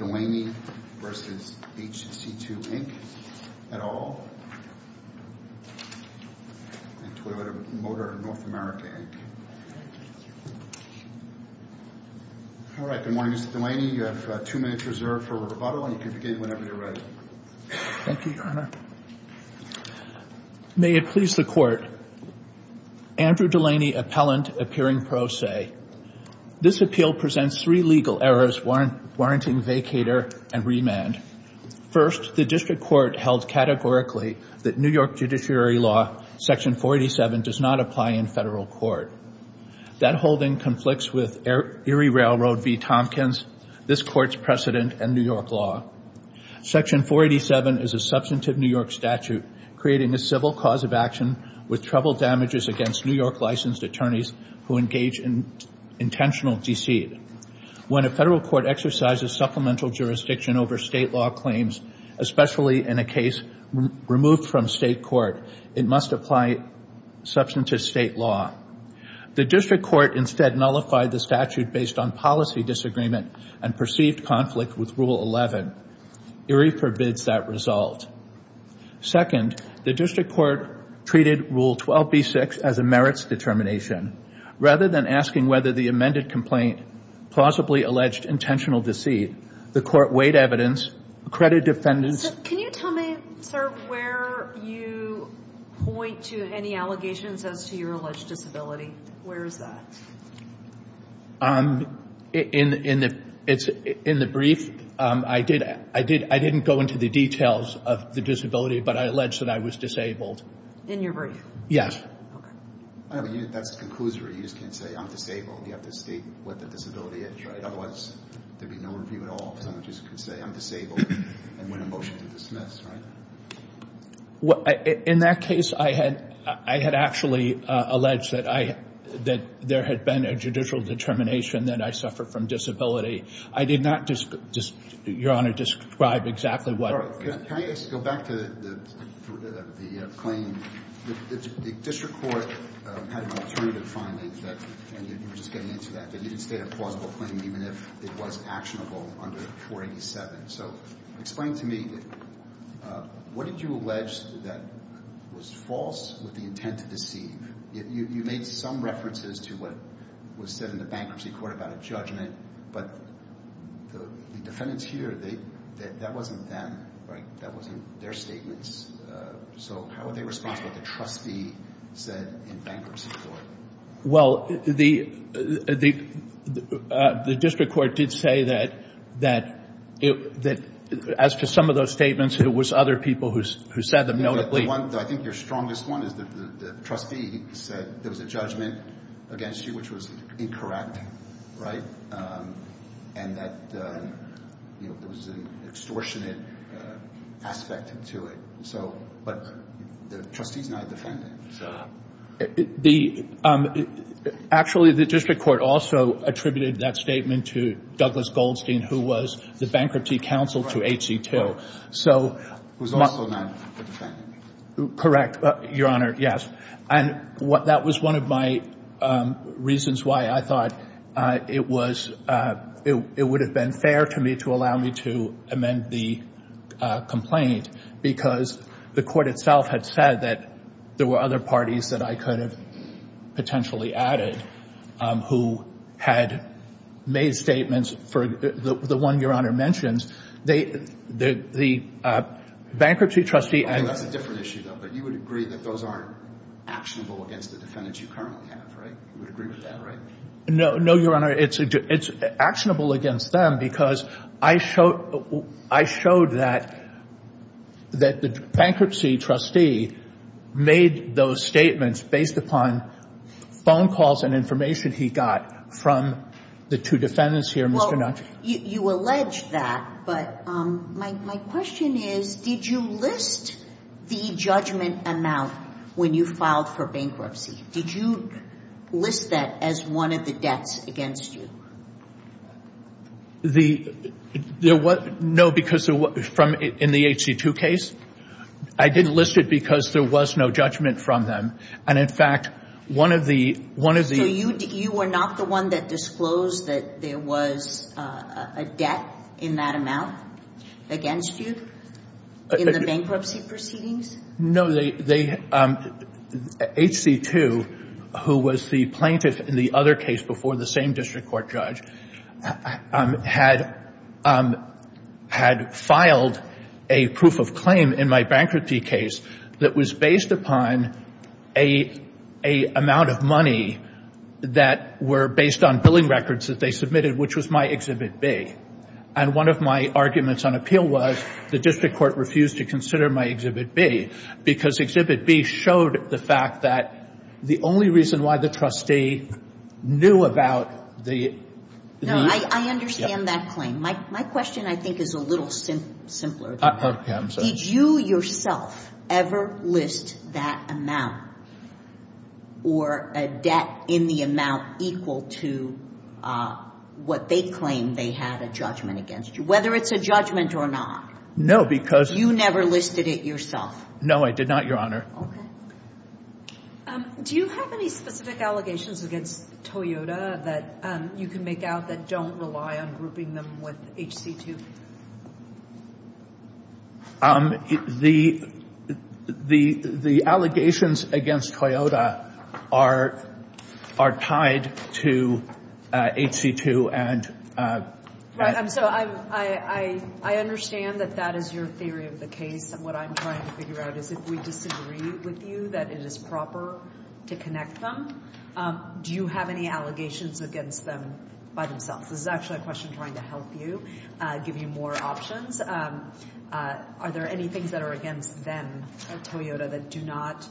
et al., and Toilet and Motor of North America, Inc. All right, good morning, Mr. Delaney. You have two minutes reserved for rebuttal, and you can begin whenever you're ready. Thank you, Your Honor. May it please the Court, Andrew Delaney, appellant, appearing pro se. This appeal presents three legal errors warranting vacator and remand. First, the district court held categorically that New York judiciary law, section 487, does not apply in federal court. That holding conflicts with Erie Railroad v. Tompkins, this court's precedent, and New York law. Section 487 is a substantive New York statute creating a civil cause of action with trouble damages against New York licensed attorneys who engage in intentional deceit. When a federal court exercises supplemental jurisdiction over state law claims, especially in a case removed from state court, it must apply substantive state law. The district court instead nullified the statute based on policy disagreement and perceived conflict with Rule 11. Erie forbids that result. Second, the district court treated Rule 12b-6 as a merits determination. Rather than asking whether the amended complaint plausibly alleged intentional deceit, the court weighed evidence, accredited defendants Can you tell me, sir, where you point to any allegations as to your alleged disability? Where is that? In the brief, I didn't go into the details of the disability, but I allege that I was disabled. In your brief? Yes. Okay. That's a conclusory. You just can't say, I'm disabled. You have to state what the disability is, right? Otherwise, there'd be no review at all. Someone just can say, I'm disabled, and win a motion to dismiss, right? In that case, I had actually alleged that there had been a judicial determination that I suffer from disability. I did not, Your Honor, describe exactly what. Can I just go back to the claim? The district court had an alternative finding, and you were just getting into that, that it didn't state a plausible claim even if it was actionable under 487. Explain to me, what did you allege that was false with the intent to deceive? You made some references to what was said in the bankruptcy court about a judgment, but the defendants here, that wasn't them, right? That wasn't their statements. How are they responsible? The trustee said in bankruptcy court. Well, the district court did say that as to some of those statements, it was other people who said them, notably. I think your strongest one is the trustee said there was a judgment against you, which was incorrect, right? And that there was an extortionate aspect to it. But the trustee is not a defendant. Actually, the district court also attributed that statement to Douglas Goldstein, who was the bankruptcy counsel to HC2. Who's also not a defendant. Correct, Your Honor, yes. And that was one of my reasons why I thought it would have been fair to me to allow me to amend the complaint, because the court itself had said that there were other parties that I could have potentially added who had made statements for the one Your Honor mentions. The bankruptcy trustee. That's a different issue, though. But you would agree that those aren't actionable against the defendants you currently have, right? You would agree with that, right? No, Your Honor. It's actionable against them because I showed that the bankruptcy trustee made those statements based upon phone calls and information he got from the two defendants here, Mr. Nutch. Well, you allege that, but my question is, did you list the judgment amount when you filed for bankruptcy? Did you list that as one of the debts against you? No, because in the HC2 case, I didn't list it because there was no judgment from them. And, in fact, one of the – So you were not the one that disclosed that there was a debt in that amount against you in the bankruptcy proceedings? No, they – HC2, who was the plaintiff in the other case before the same district court judge, had filed a proof of claim in my bankruptcy case that was based upon an amount of money that were based on billing records that they submitted, which was my Exhibit B. And one of my arguments on appeal was the district court refused to consider my Exhibit B because Exhibit B showed the fact that the only reason why the trustee knew about the – No, I understand that claim. My question, I think, is a little simpler than that. Okay, I'm sorry. Did you yourself ever list that amount or a debt in the amount equal to what they claimed they had a judgment against you, whether it's a judgment or not? No, because – You never listed it yourself? No, I did not, Your Honor. Okay. Do you have any specific allegations against Toyota that you can make out that don't rely on grouping them with HC2? The allegations against Toyota are tied to HC2 and – Right, so I understand that that is your theory of the case, and what I'm trying to figure out is if we disagree with you that it is proper to connect them. Do you have any allegations against them by themselves? This is actually a question trying to help you, give you more options. Are there any things that are against them, Toyota, that do not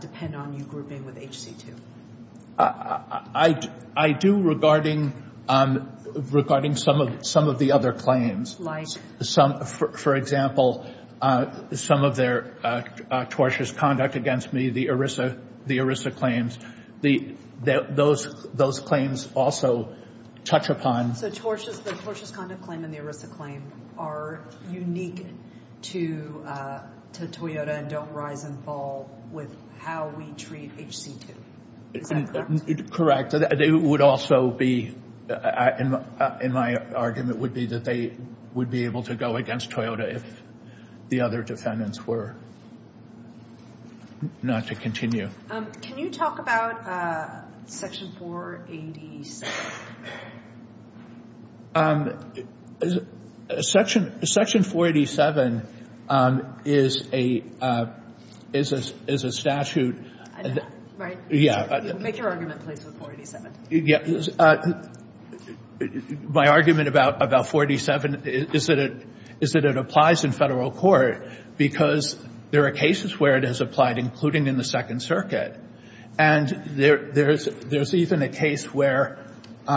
depend on you grouping with HC2? I do regarding some of the other claims. Like? For example, some of their tortious conduct against me, the ERISA claims. Those claims also touch upon – So the tortious conduct claim and the ERISA claim are unique to Toyota and don't rise and fall with how we treat HC2. Is that correct? Correct. It would also be – and my argument would be that they would be able to go against Toyota if the other defendants were not to continue. Can you talk about Section 487? Section 487 is a statute – Right. Yeah. Make your argument in place with 487. My argument about 487 is that it applies in federal court because there are cases where it has applied, including in the Second Circuit. And there's even a case where the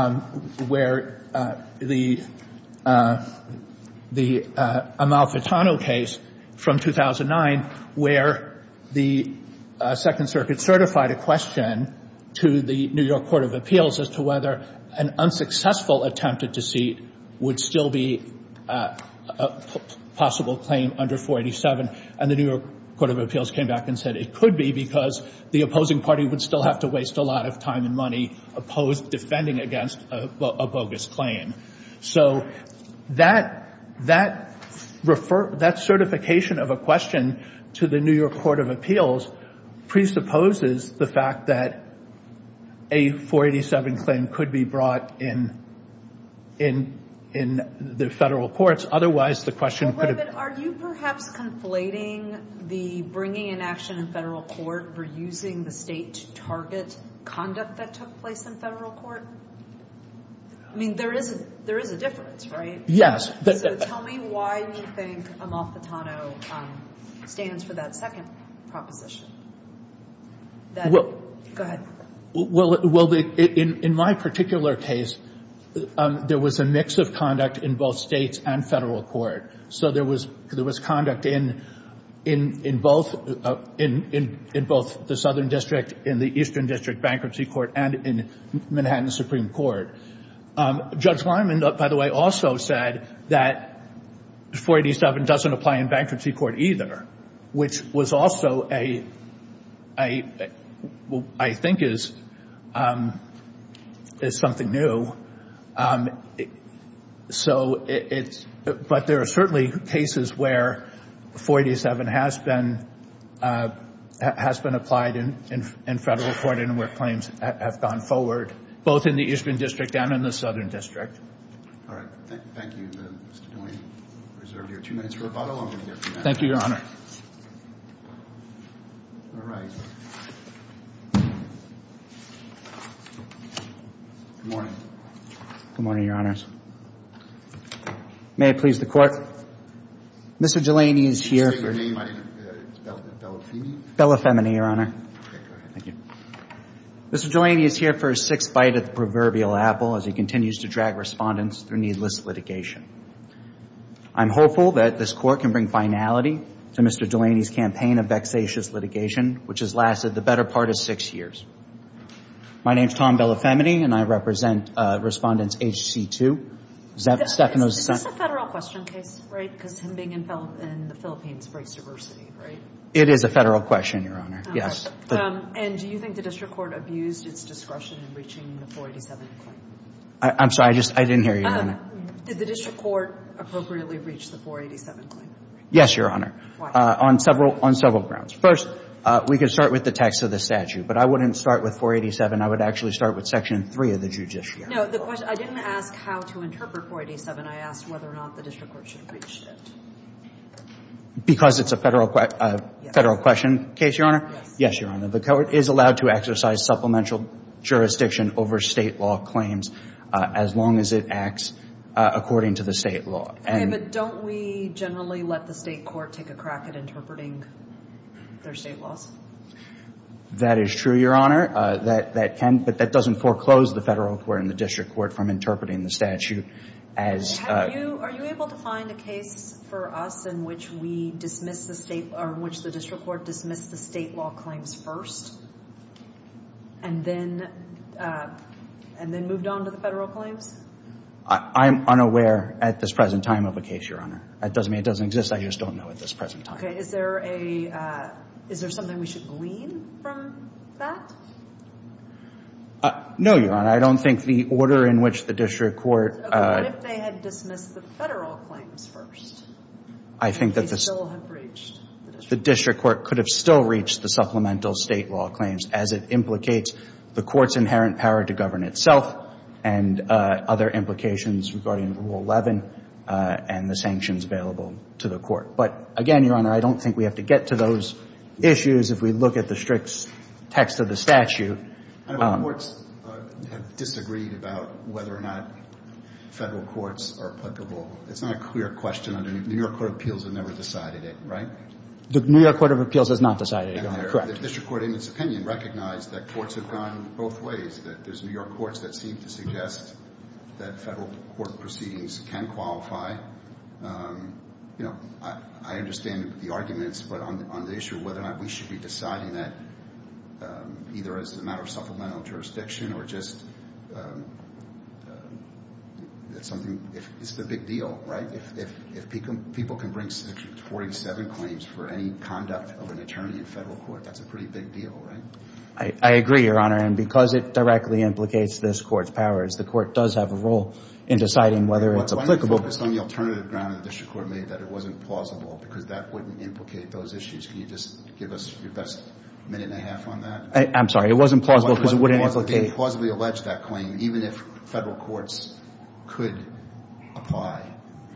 Amalfitano case from 2009, where the Second Circuit certified a question to the New York Court of Appeals as to whether an unsuccessful attempted deceit would still be a possible claim under 487. And the New York Court of Appeals came back and said it could be because the opposing party would still have to waste a lot of time and money defending against a bogus claim. So that certification of a question to the New York Court of Appeals presupposes the fact that a 487 claim could be brought in the federal courts. Otherwise, the question could have – Wait a minute. Are you perhaps conflating the bringing in action in federal court for using the state to target conduct that took place in federal court? I mean, there is a difference, right? Yes. So tell me why you think Amalfitano stands for that second proposition. Go ahead. Well, in my particular case, there was a mix of conduct in both states and federal court. So there was conduct in both the Southern District, in the Eastern District Bankruptcy Court, and in Manhattan Supreme Court. Judge Lyman, by the way, also said that 487 doesn't apply in bankruptcy court either, which was also a – I think is something new. So it's – but there are certainly cases where 487 has been applied in federal court and where claims have gone forward, both in the Eastern District and in the Southern District. All right. Thank you. Mr. Delaney, we reserve your two minutes for rebuttal. I'm going to give you a few minutes. Thank you, Your Honor. All right. Good morning. Good morning, Your Honors. May it please the Court? Mr. Delaney is here. Can you state your name? My name is Bella Femini. Bella Femini, Your Honor. Okay, go ahead. Thank you. Mr. Delaney is here for his sixth bite at the proverbial apple as he continues to drag respondents through needless litigation. I'm hopeful that this Court can bring finality to Mr. Delaney's campaign of vexatious litigation, which has lasted the better part of six years. My name is Tom Bella Femini, and I represent Respondents HC2. Is this a federal question case, right, because him being in the Philippines breaks diversity, right? It is a federal question, Your Honor. Yes. And do you think the district court abused its discretion in reaching the 487 claim? I'm sorry. I just didn't hear you, Your Honor. Did the district court appropriately reach the 487 claim? Yes, Your Honor. Why? On several grounds. First, we can start with the text of the statute, but I wouldn't start with 487. I would actually start with Section 3 of the Judiciary Act. No, I didn't ask how to interpret 487. I asked whether or not the district court should have reached it. Because it's a federal question case, Your Honor? Yes. Yes, Your Honor. The court is allowed to exercise supplemental jurisdiction over state law claims as long as it acts according to the state law. Okay, but don't we generally let the state court take a crack at interpreting their state laws? That is true, Your Honor. That can, but that doesn't foreclose the federal court and the district court from interpreting the statute as... Are you able to find a case for us in which the district court dismissed the state law claims first and then moved on to the federal claims? I'm unaware at this present time of a case, Your Honor. It doesn't mean it doesn't exist. I just don't know at this present time. Okay. Is there something we should glean from that? No, Your Honor. I don't think the order in which the district court... Dismissed the federal claims first. I think that the... Could still have reached the district court. The district court could have still reached the supplemental state law claims as it implicates the court's inherent power to govern itself and other implications regarding Rule 11 and the sanctions available to the court. But, again, Your Honor, I don't think we have to get to those issues if we look at the strict text of the statute. I know courts have disagreed about whether or not federal courts are applicable. It's not a clear question. New York court of appeals has never decided it, right? The New York court of appeals has not decided it, Your Honor. Correct. The district court, in its opinion, recognized that courts have gone both ways, that there's New York courts that seem to suggest that federal court proceedings can qualify. You know, I understand the arguments, but on the issue of whether or not we should be deciding that either as a matter of supplemental jurisdiction or just something... It's the big deal, right? If people can bring Section 47 claims for any conduct of an attorney in federal court, that's a pretty big deal, right? I agree, Your Honor, and because it directly implicates this court's powers, the court does have a role in deciding whether it's applicable. But on the alternative ground, the district court made that it wasn't plausible because that wouldn't implicate those issues. Can you just give us your best minute and a half on that? I'm sorry. It wasn't plausible because it wouldn't implicate... They plausibly alleged that claim even if federal courts could apply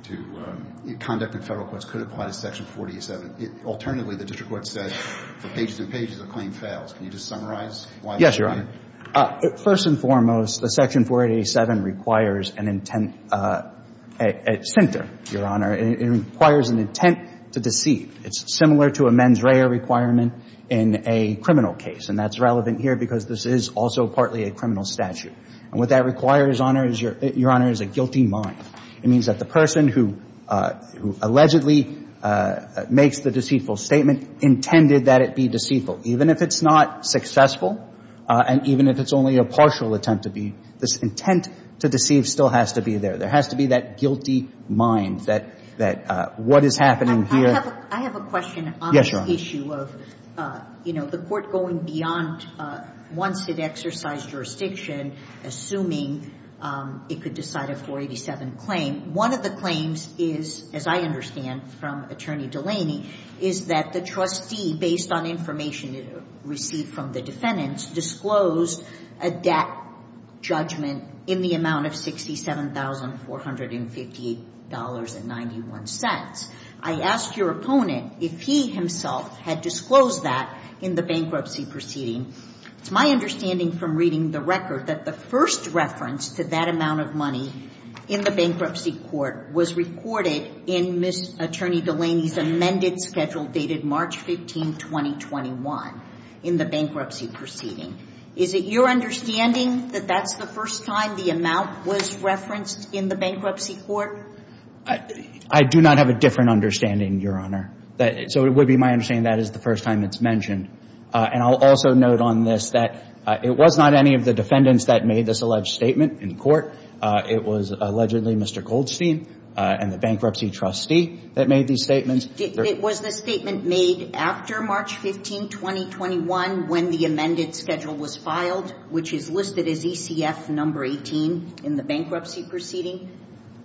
to... Conduct in federal courts could apply to Section 47. Alternatively, the district court said for pages and pages, the claim fails. Can you just summarize why that is? Yes, Your Honor. First and foremost, the Section 4887 requires an intent at center, Your Honor. It requires an intent to deceive. It's similar to a mens rea requirement in a criminal case, and that's relevant here because this is also partly a criminal statute. And what that requires, Your Honor, is a guilty mind. It means that the person who allegedly makes the deceitful statement intended that it be deceitful. Even if it's not successful and even if it's only a partial attempt to be, this intent to deceive still has to be there. There has to be that guilty mind, that what is happening here. I have a question on this issue of, you know, the court going beyond once it exercised jurisdiction, assuming it could decide a 487 claim. One of the claims is, as I understand from Attorney Delaney, is that the trustee, based on information received from the defendants, disclosed a debt judgment in the amount of $67,458.91. I asked your opponent if he himself had disclosed that in the bankruptcy proceeding. It's my understanding from reading the record that the first reference to that amount of money in the bankruptcy court was recorded in Ms. Attorney Delaney's amended schedule dated March 15, 2021, in the bankruptcy proceeding. Is it your understanding that that's the first time the amount was referenced in the bankruptcy court? I do not have a different understanding, Your Honor. So it would be my understanding that is the first time it's mentioned. And I'll also note on this that it was not any of the defendants that made this alleged statement in court. It was allegedly Mr. Goldstein and the bankruptcy trustee that made these statements. It was the statement made after March 15, 2021, when the amended schedule was filed, which is listed as ECF number 18 in the bankruptcy proceeding?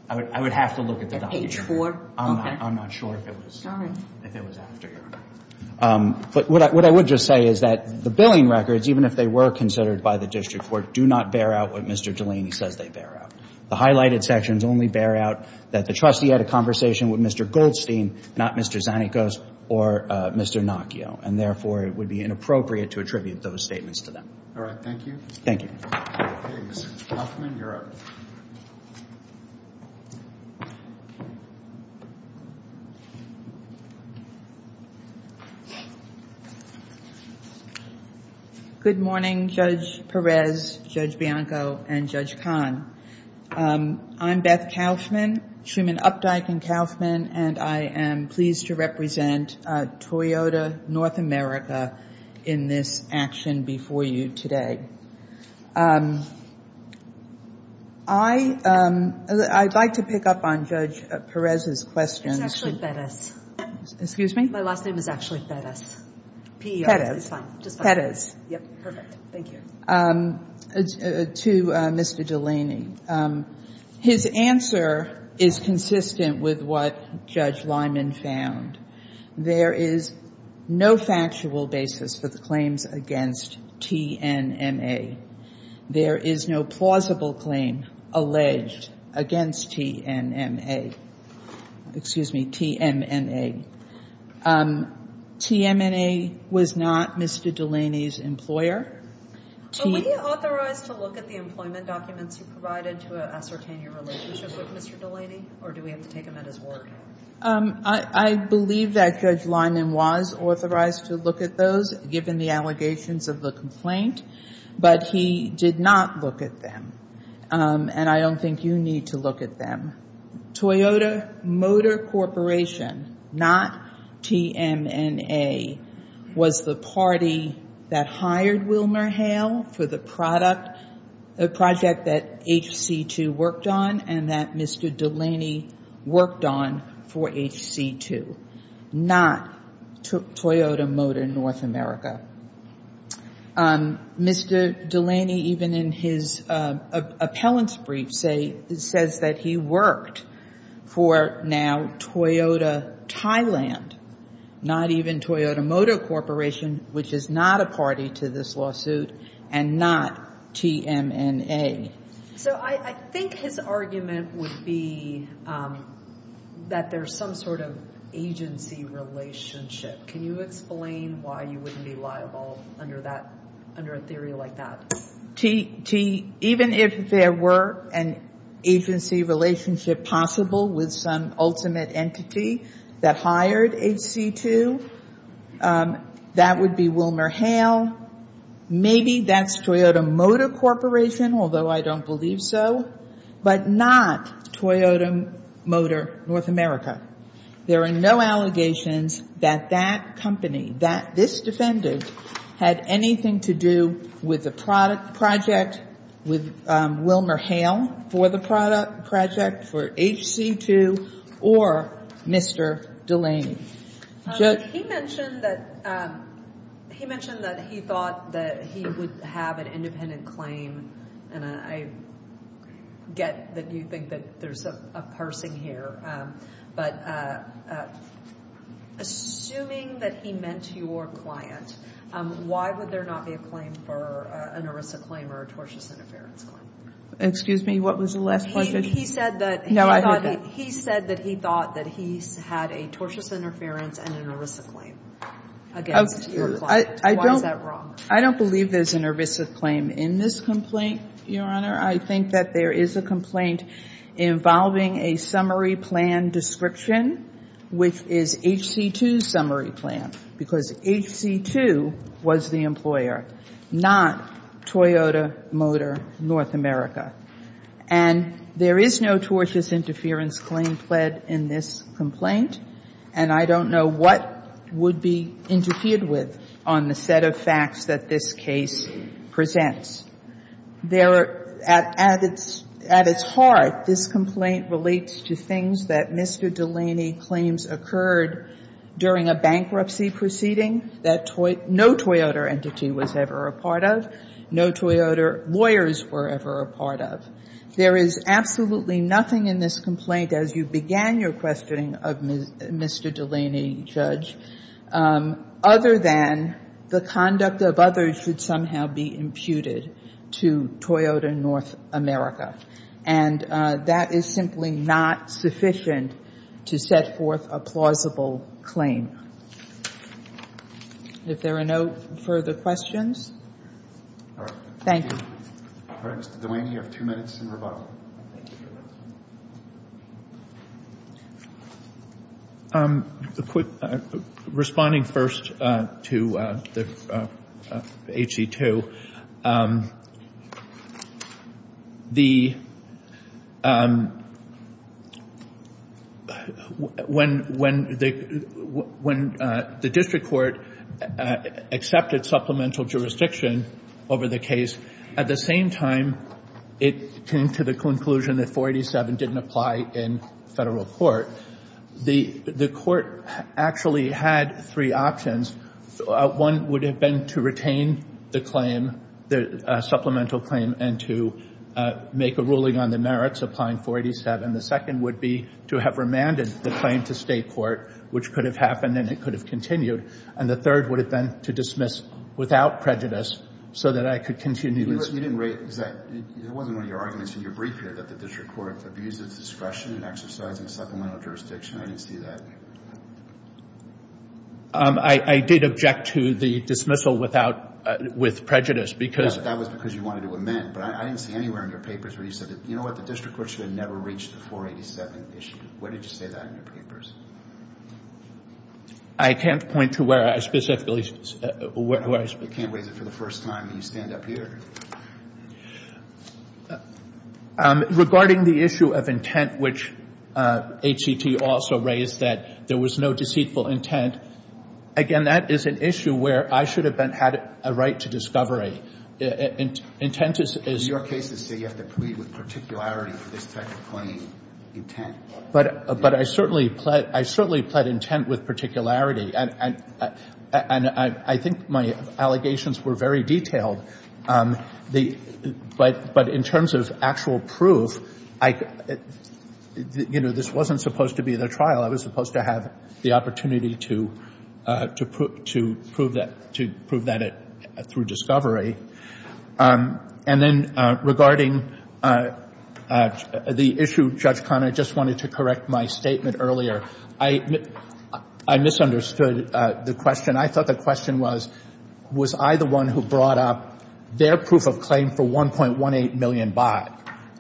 I would have to look at the document. At page 4? Okay. I'm not sure if it was after, Your Honor. But what I would just say is that the billing records, even if they were considered by the district court, do not bear out what Mr. Delaney says they bear out. The highlighted sections only bear out that the trustee had a conversation with Mr. Goldstein, not Mr. Zanikos or Mr. Nocchio. And therefore, it would be inappropriate to attribute those statements to them. All right. Thank you. Thank you. Mr. Hoffman, you're up. Good morning, Judge Perez, Judge Bianco, and Judge Kahn. I'm Beth Kauffman, Truman Updike and Kauffman, and I am pleased to represent Toyota North America in this action before you today. I'd like to pick up on Judge Perez's question. My last name is Ashley Perez. Ashley Perez. Perez. Yep. Perfect. Thank you. To Mr. Delaney, his answer is consistent with what Judge Lyman found. There is no factual basis for the claims against TNMA. There is no plausible claim alleged against TNMA. Excuse me, TMNA. TMNA was not Mr. Delaney's employer. Were you authorized to look at the employment documents you provided to ascertain your relationship with Mr. Delaney, or do we have to take them at his word? I believe that Judge Lyman was authorized to look at those, given the allegations of the complaint, but he did not look at them, and I don't think you need to look at them. Toyota Motor Corporation, not TMNA, was the party that hired WilmerHale for the project that HC2 worked on and that Mr. Delaney worked on for HC2, not Toyota Motor North America. Mr. Delaney, even in his appellant's brief, says that he worked for now Toyota Thailand, not even Toyota Motor Corporation, which is not a party to this lawsuit, and not TMNA. So I think his argument would be that there's some sort of agency relationship. Can you explain why you wouldn't be liable under a theory like that? Even if there were an agency relationship possible with some ultimate entity that hired HC2, that would be WilmerHale, maybe that's Toyota Motor Corporation, although I don't believe so, but not Toyota Motor North America. There are no allegations that that company, that this defendant, had anything to do with the project, with WilmerHale for the project, for HC2, or Mr. Delaney. He mentioned that he thought that he would have an independent claim, and I get that you think that there's a parsing here, but assuming that he meant your client, why would there not be a claim for an ERISA claim or a tortious interference claim? Excuse me, what was the last question? He said that he thought that he had a tortious interference and an ERISA claim against your client. Why is that wrong? I don't believe there's an ERISA claim in this complaint, Your Honor. I think that there is a complaint involving a summary plan description, which is HC2's summary plan, because HC2 was the employer, not Toyota Motor North America. And there is no tortious interference claim pled in this complaint, and I don't know what would be interfered with on the set of facts that this case presents. At its heart, this complaint relates to things that Mr. Delaney claims occurred during a bankruptcy proceeding that no Toyota entity was ever a part of, no Toyota lawyers were ever a part of. There is absolutely nothing in this complaint, as you began your questioning of Mr. Delaney, Judge, other than the conduct of others should somehow be imputed to Toyota North America. And that is simply not sufficient to set forth a plausible claim. If there are no further questions. Thank you. All right, Mr. Delaney, you have two minutes in rebuttal. Responding first to HC2, when the district court accepted supplemental jurisdiction over the case, at the same time it came to the conclusion that 487 didn't apply in federal court, the court actually had three options. One would have been to retain the claim, the supplemental claim, and to make a ruling on the merits applying 487. The second would be to have remanded the claim to state court, which could have happened and it could have continued. And the third would have been to dismiss without prejudice so that I could continue. You didn't raise that. It wasn't one of your arguments in your brief here that the district court abused its discretion in exercising supplemental jurisdiction. I didn't see that. I did object to the dismissal with prejudice because. That was because you wanted to amend. But I didn't see anywhere in your papers where you said, you know what, the district court should have never reached the 487 issue. Where did you say that in your papers? I can't point to where I specifically raised it. You can't raise it for the first time and you stand up here. Regarding the issue of intent, which HCT also raised that there was no deceitful intent, again, that is an issue where I should have had a right to discovery. Intent is. In your cases, you have to plead with particularity for this type of claim, intent. But I certainly pled intent with particularity. And I think my allegations were very detailed. But in terms of actual proof, you know, this wasn't supposed to be the trial. I was supposed to have the opportunity to prove that through discovery. And then regarding the issue, Judge Conner, I just wanted to correct my statement earlier. I misunderstood the question. I thought the question was, was I the one who brought up their proof of claim for 1.18 million baht?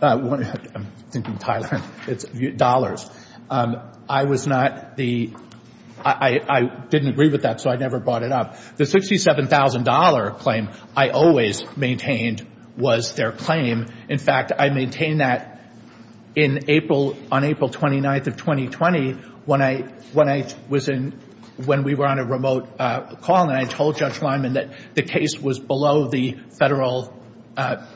I'm thinking Thailand. It's dollars. I was not the — I didn't agree with that, so I never brought it up. The $67,000 claim I always maintained was their claim. In fact, I maintained that on April 29th of 2020 when I was in — when we were on a remote call. And I told Judge Lyman that the case was below the federal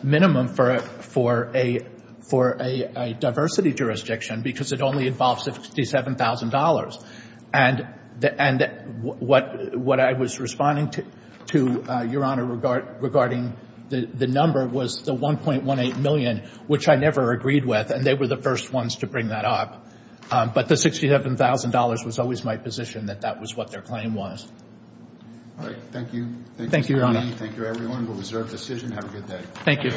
minimum for a diversity jurisdiction because it only involves $67,000. And what I was responding to, Your Honor, regarding the number was the 1.18 million, which I never agreed with. And they were the first ones to bring that up. But the $67,000 was always my position that that was what their claim was. All right. Thank you. Thank you, Your Honor. Thank you, everyone. We'll reserve decision. Have a good day. Thank you.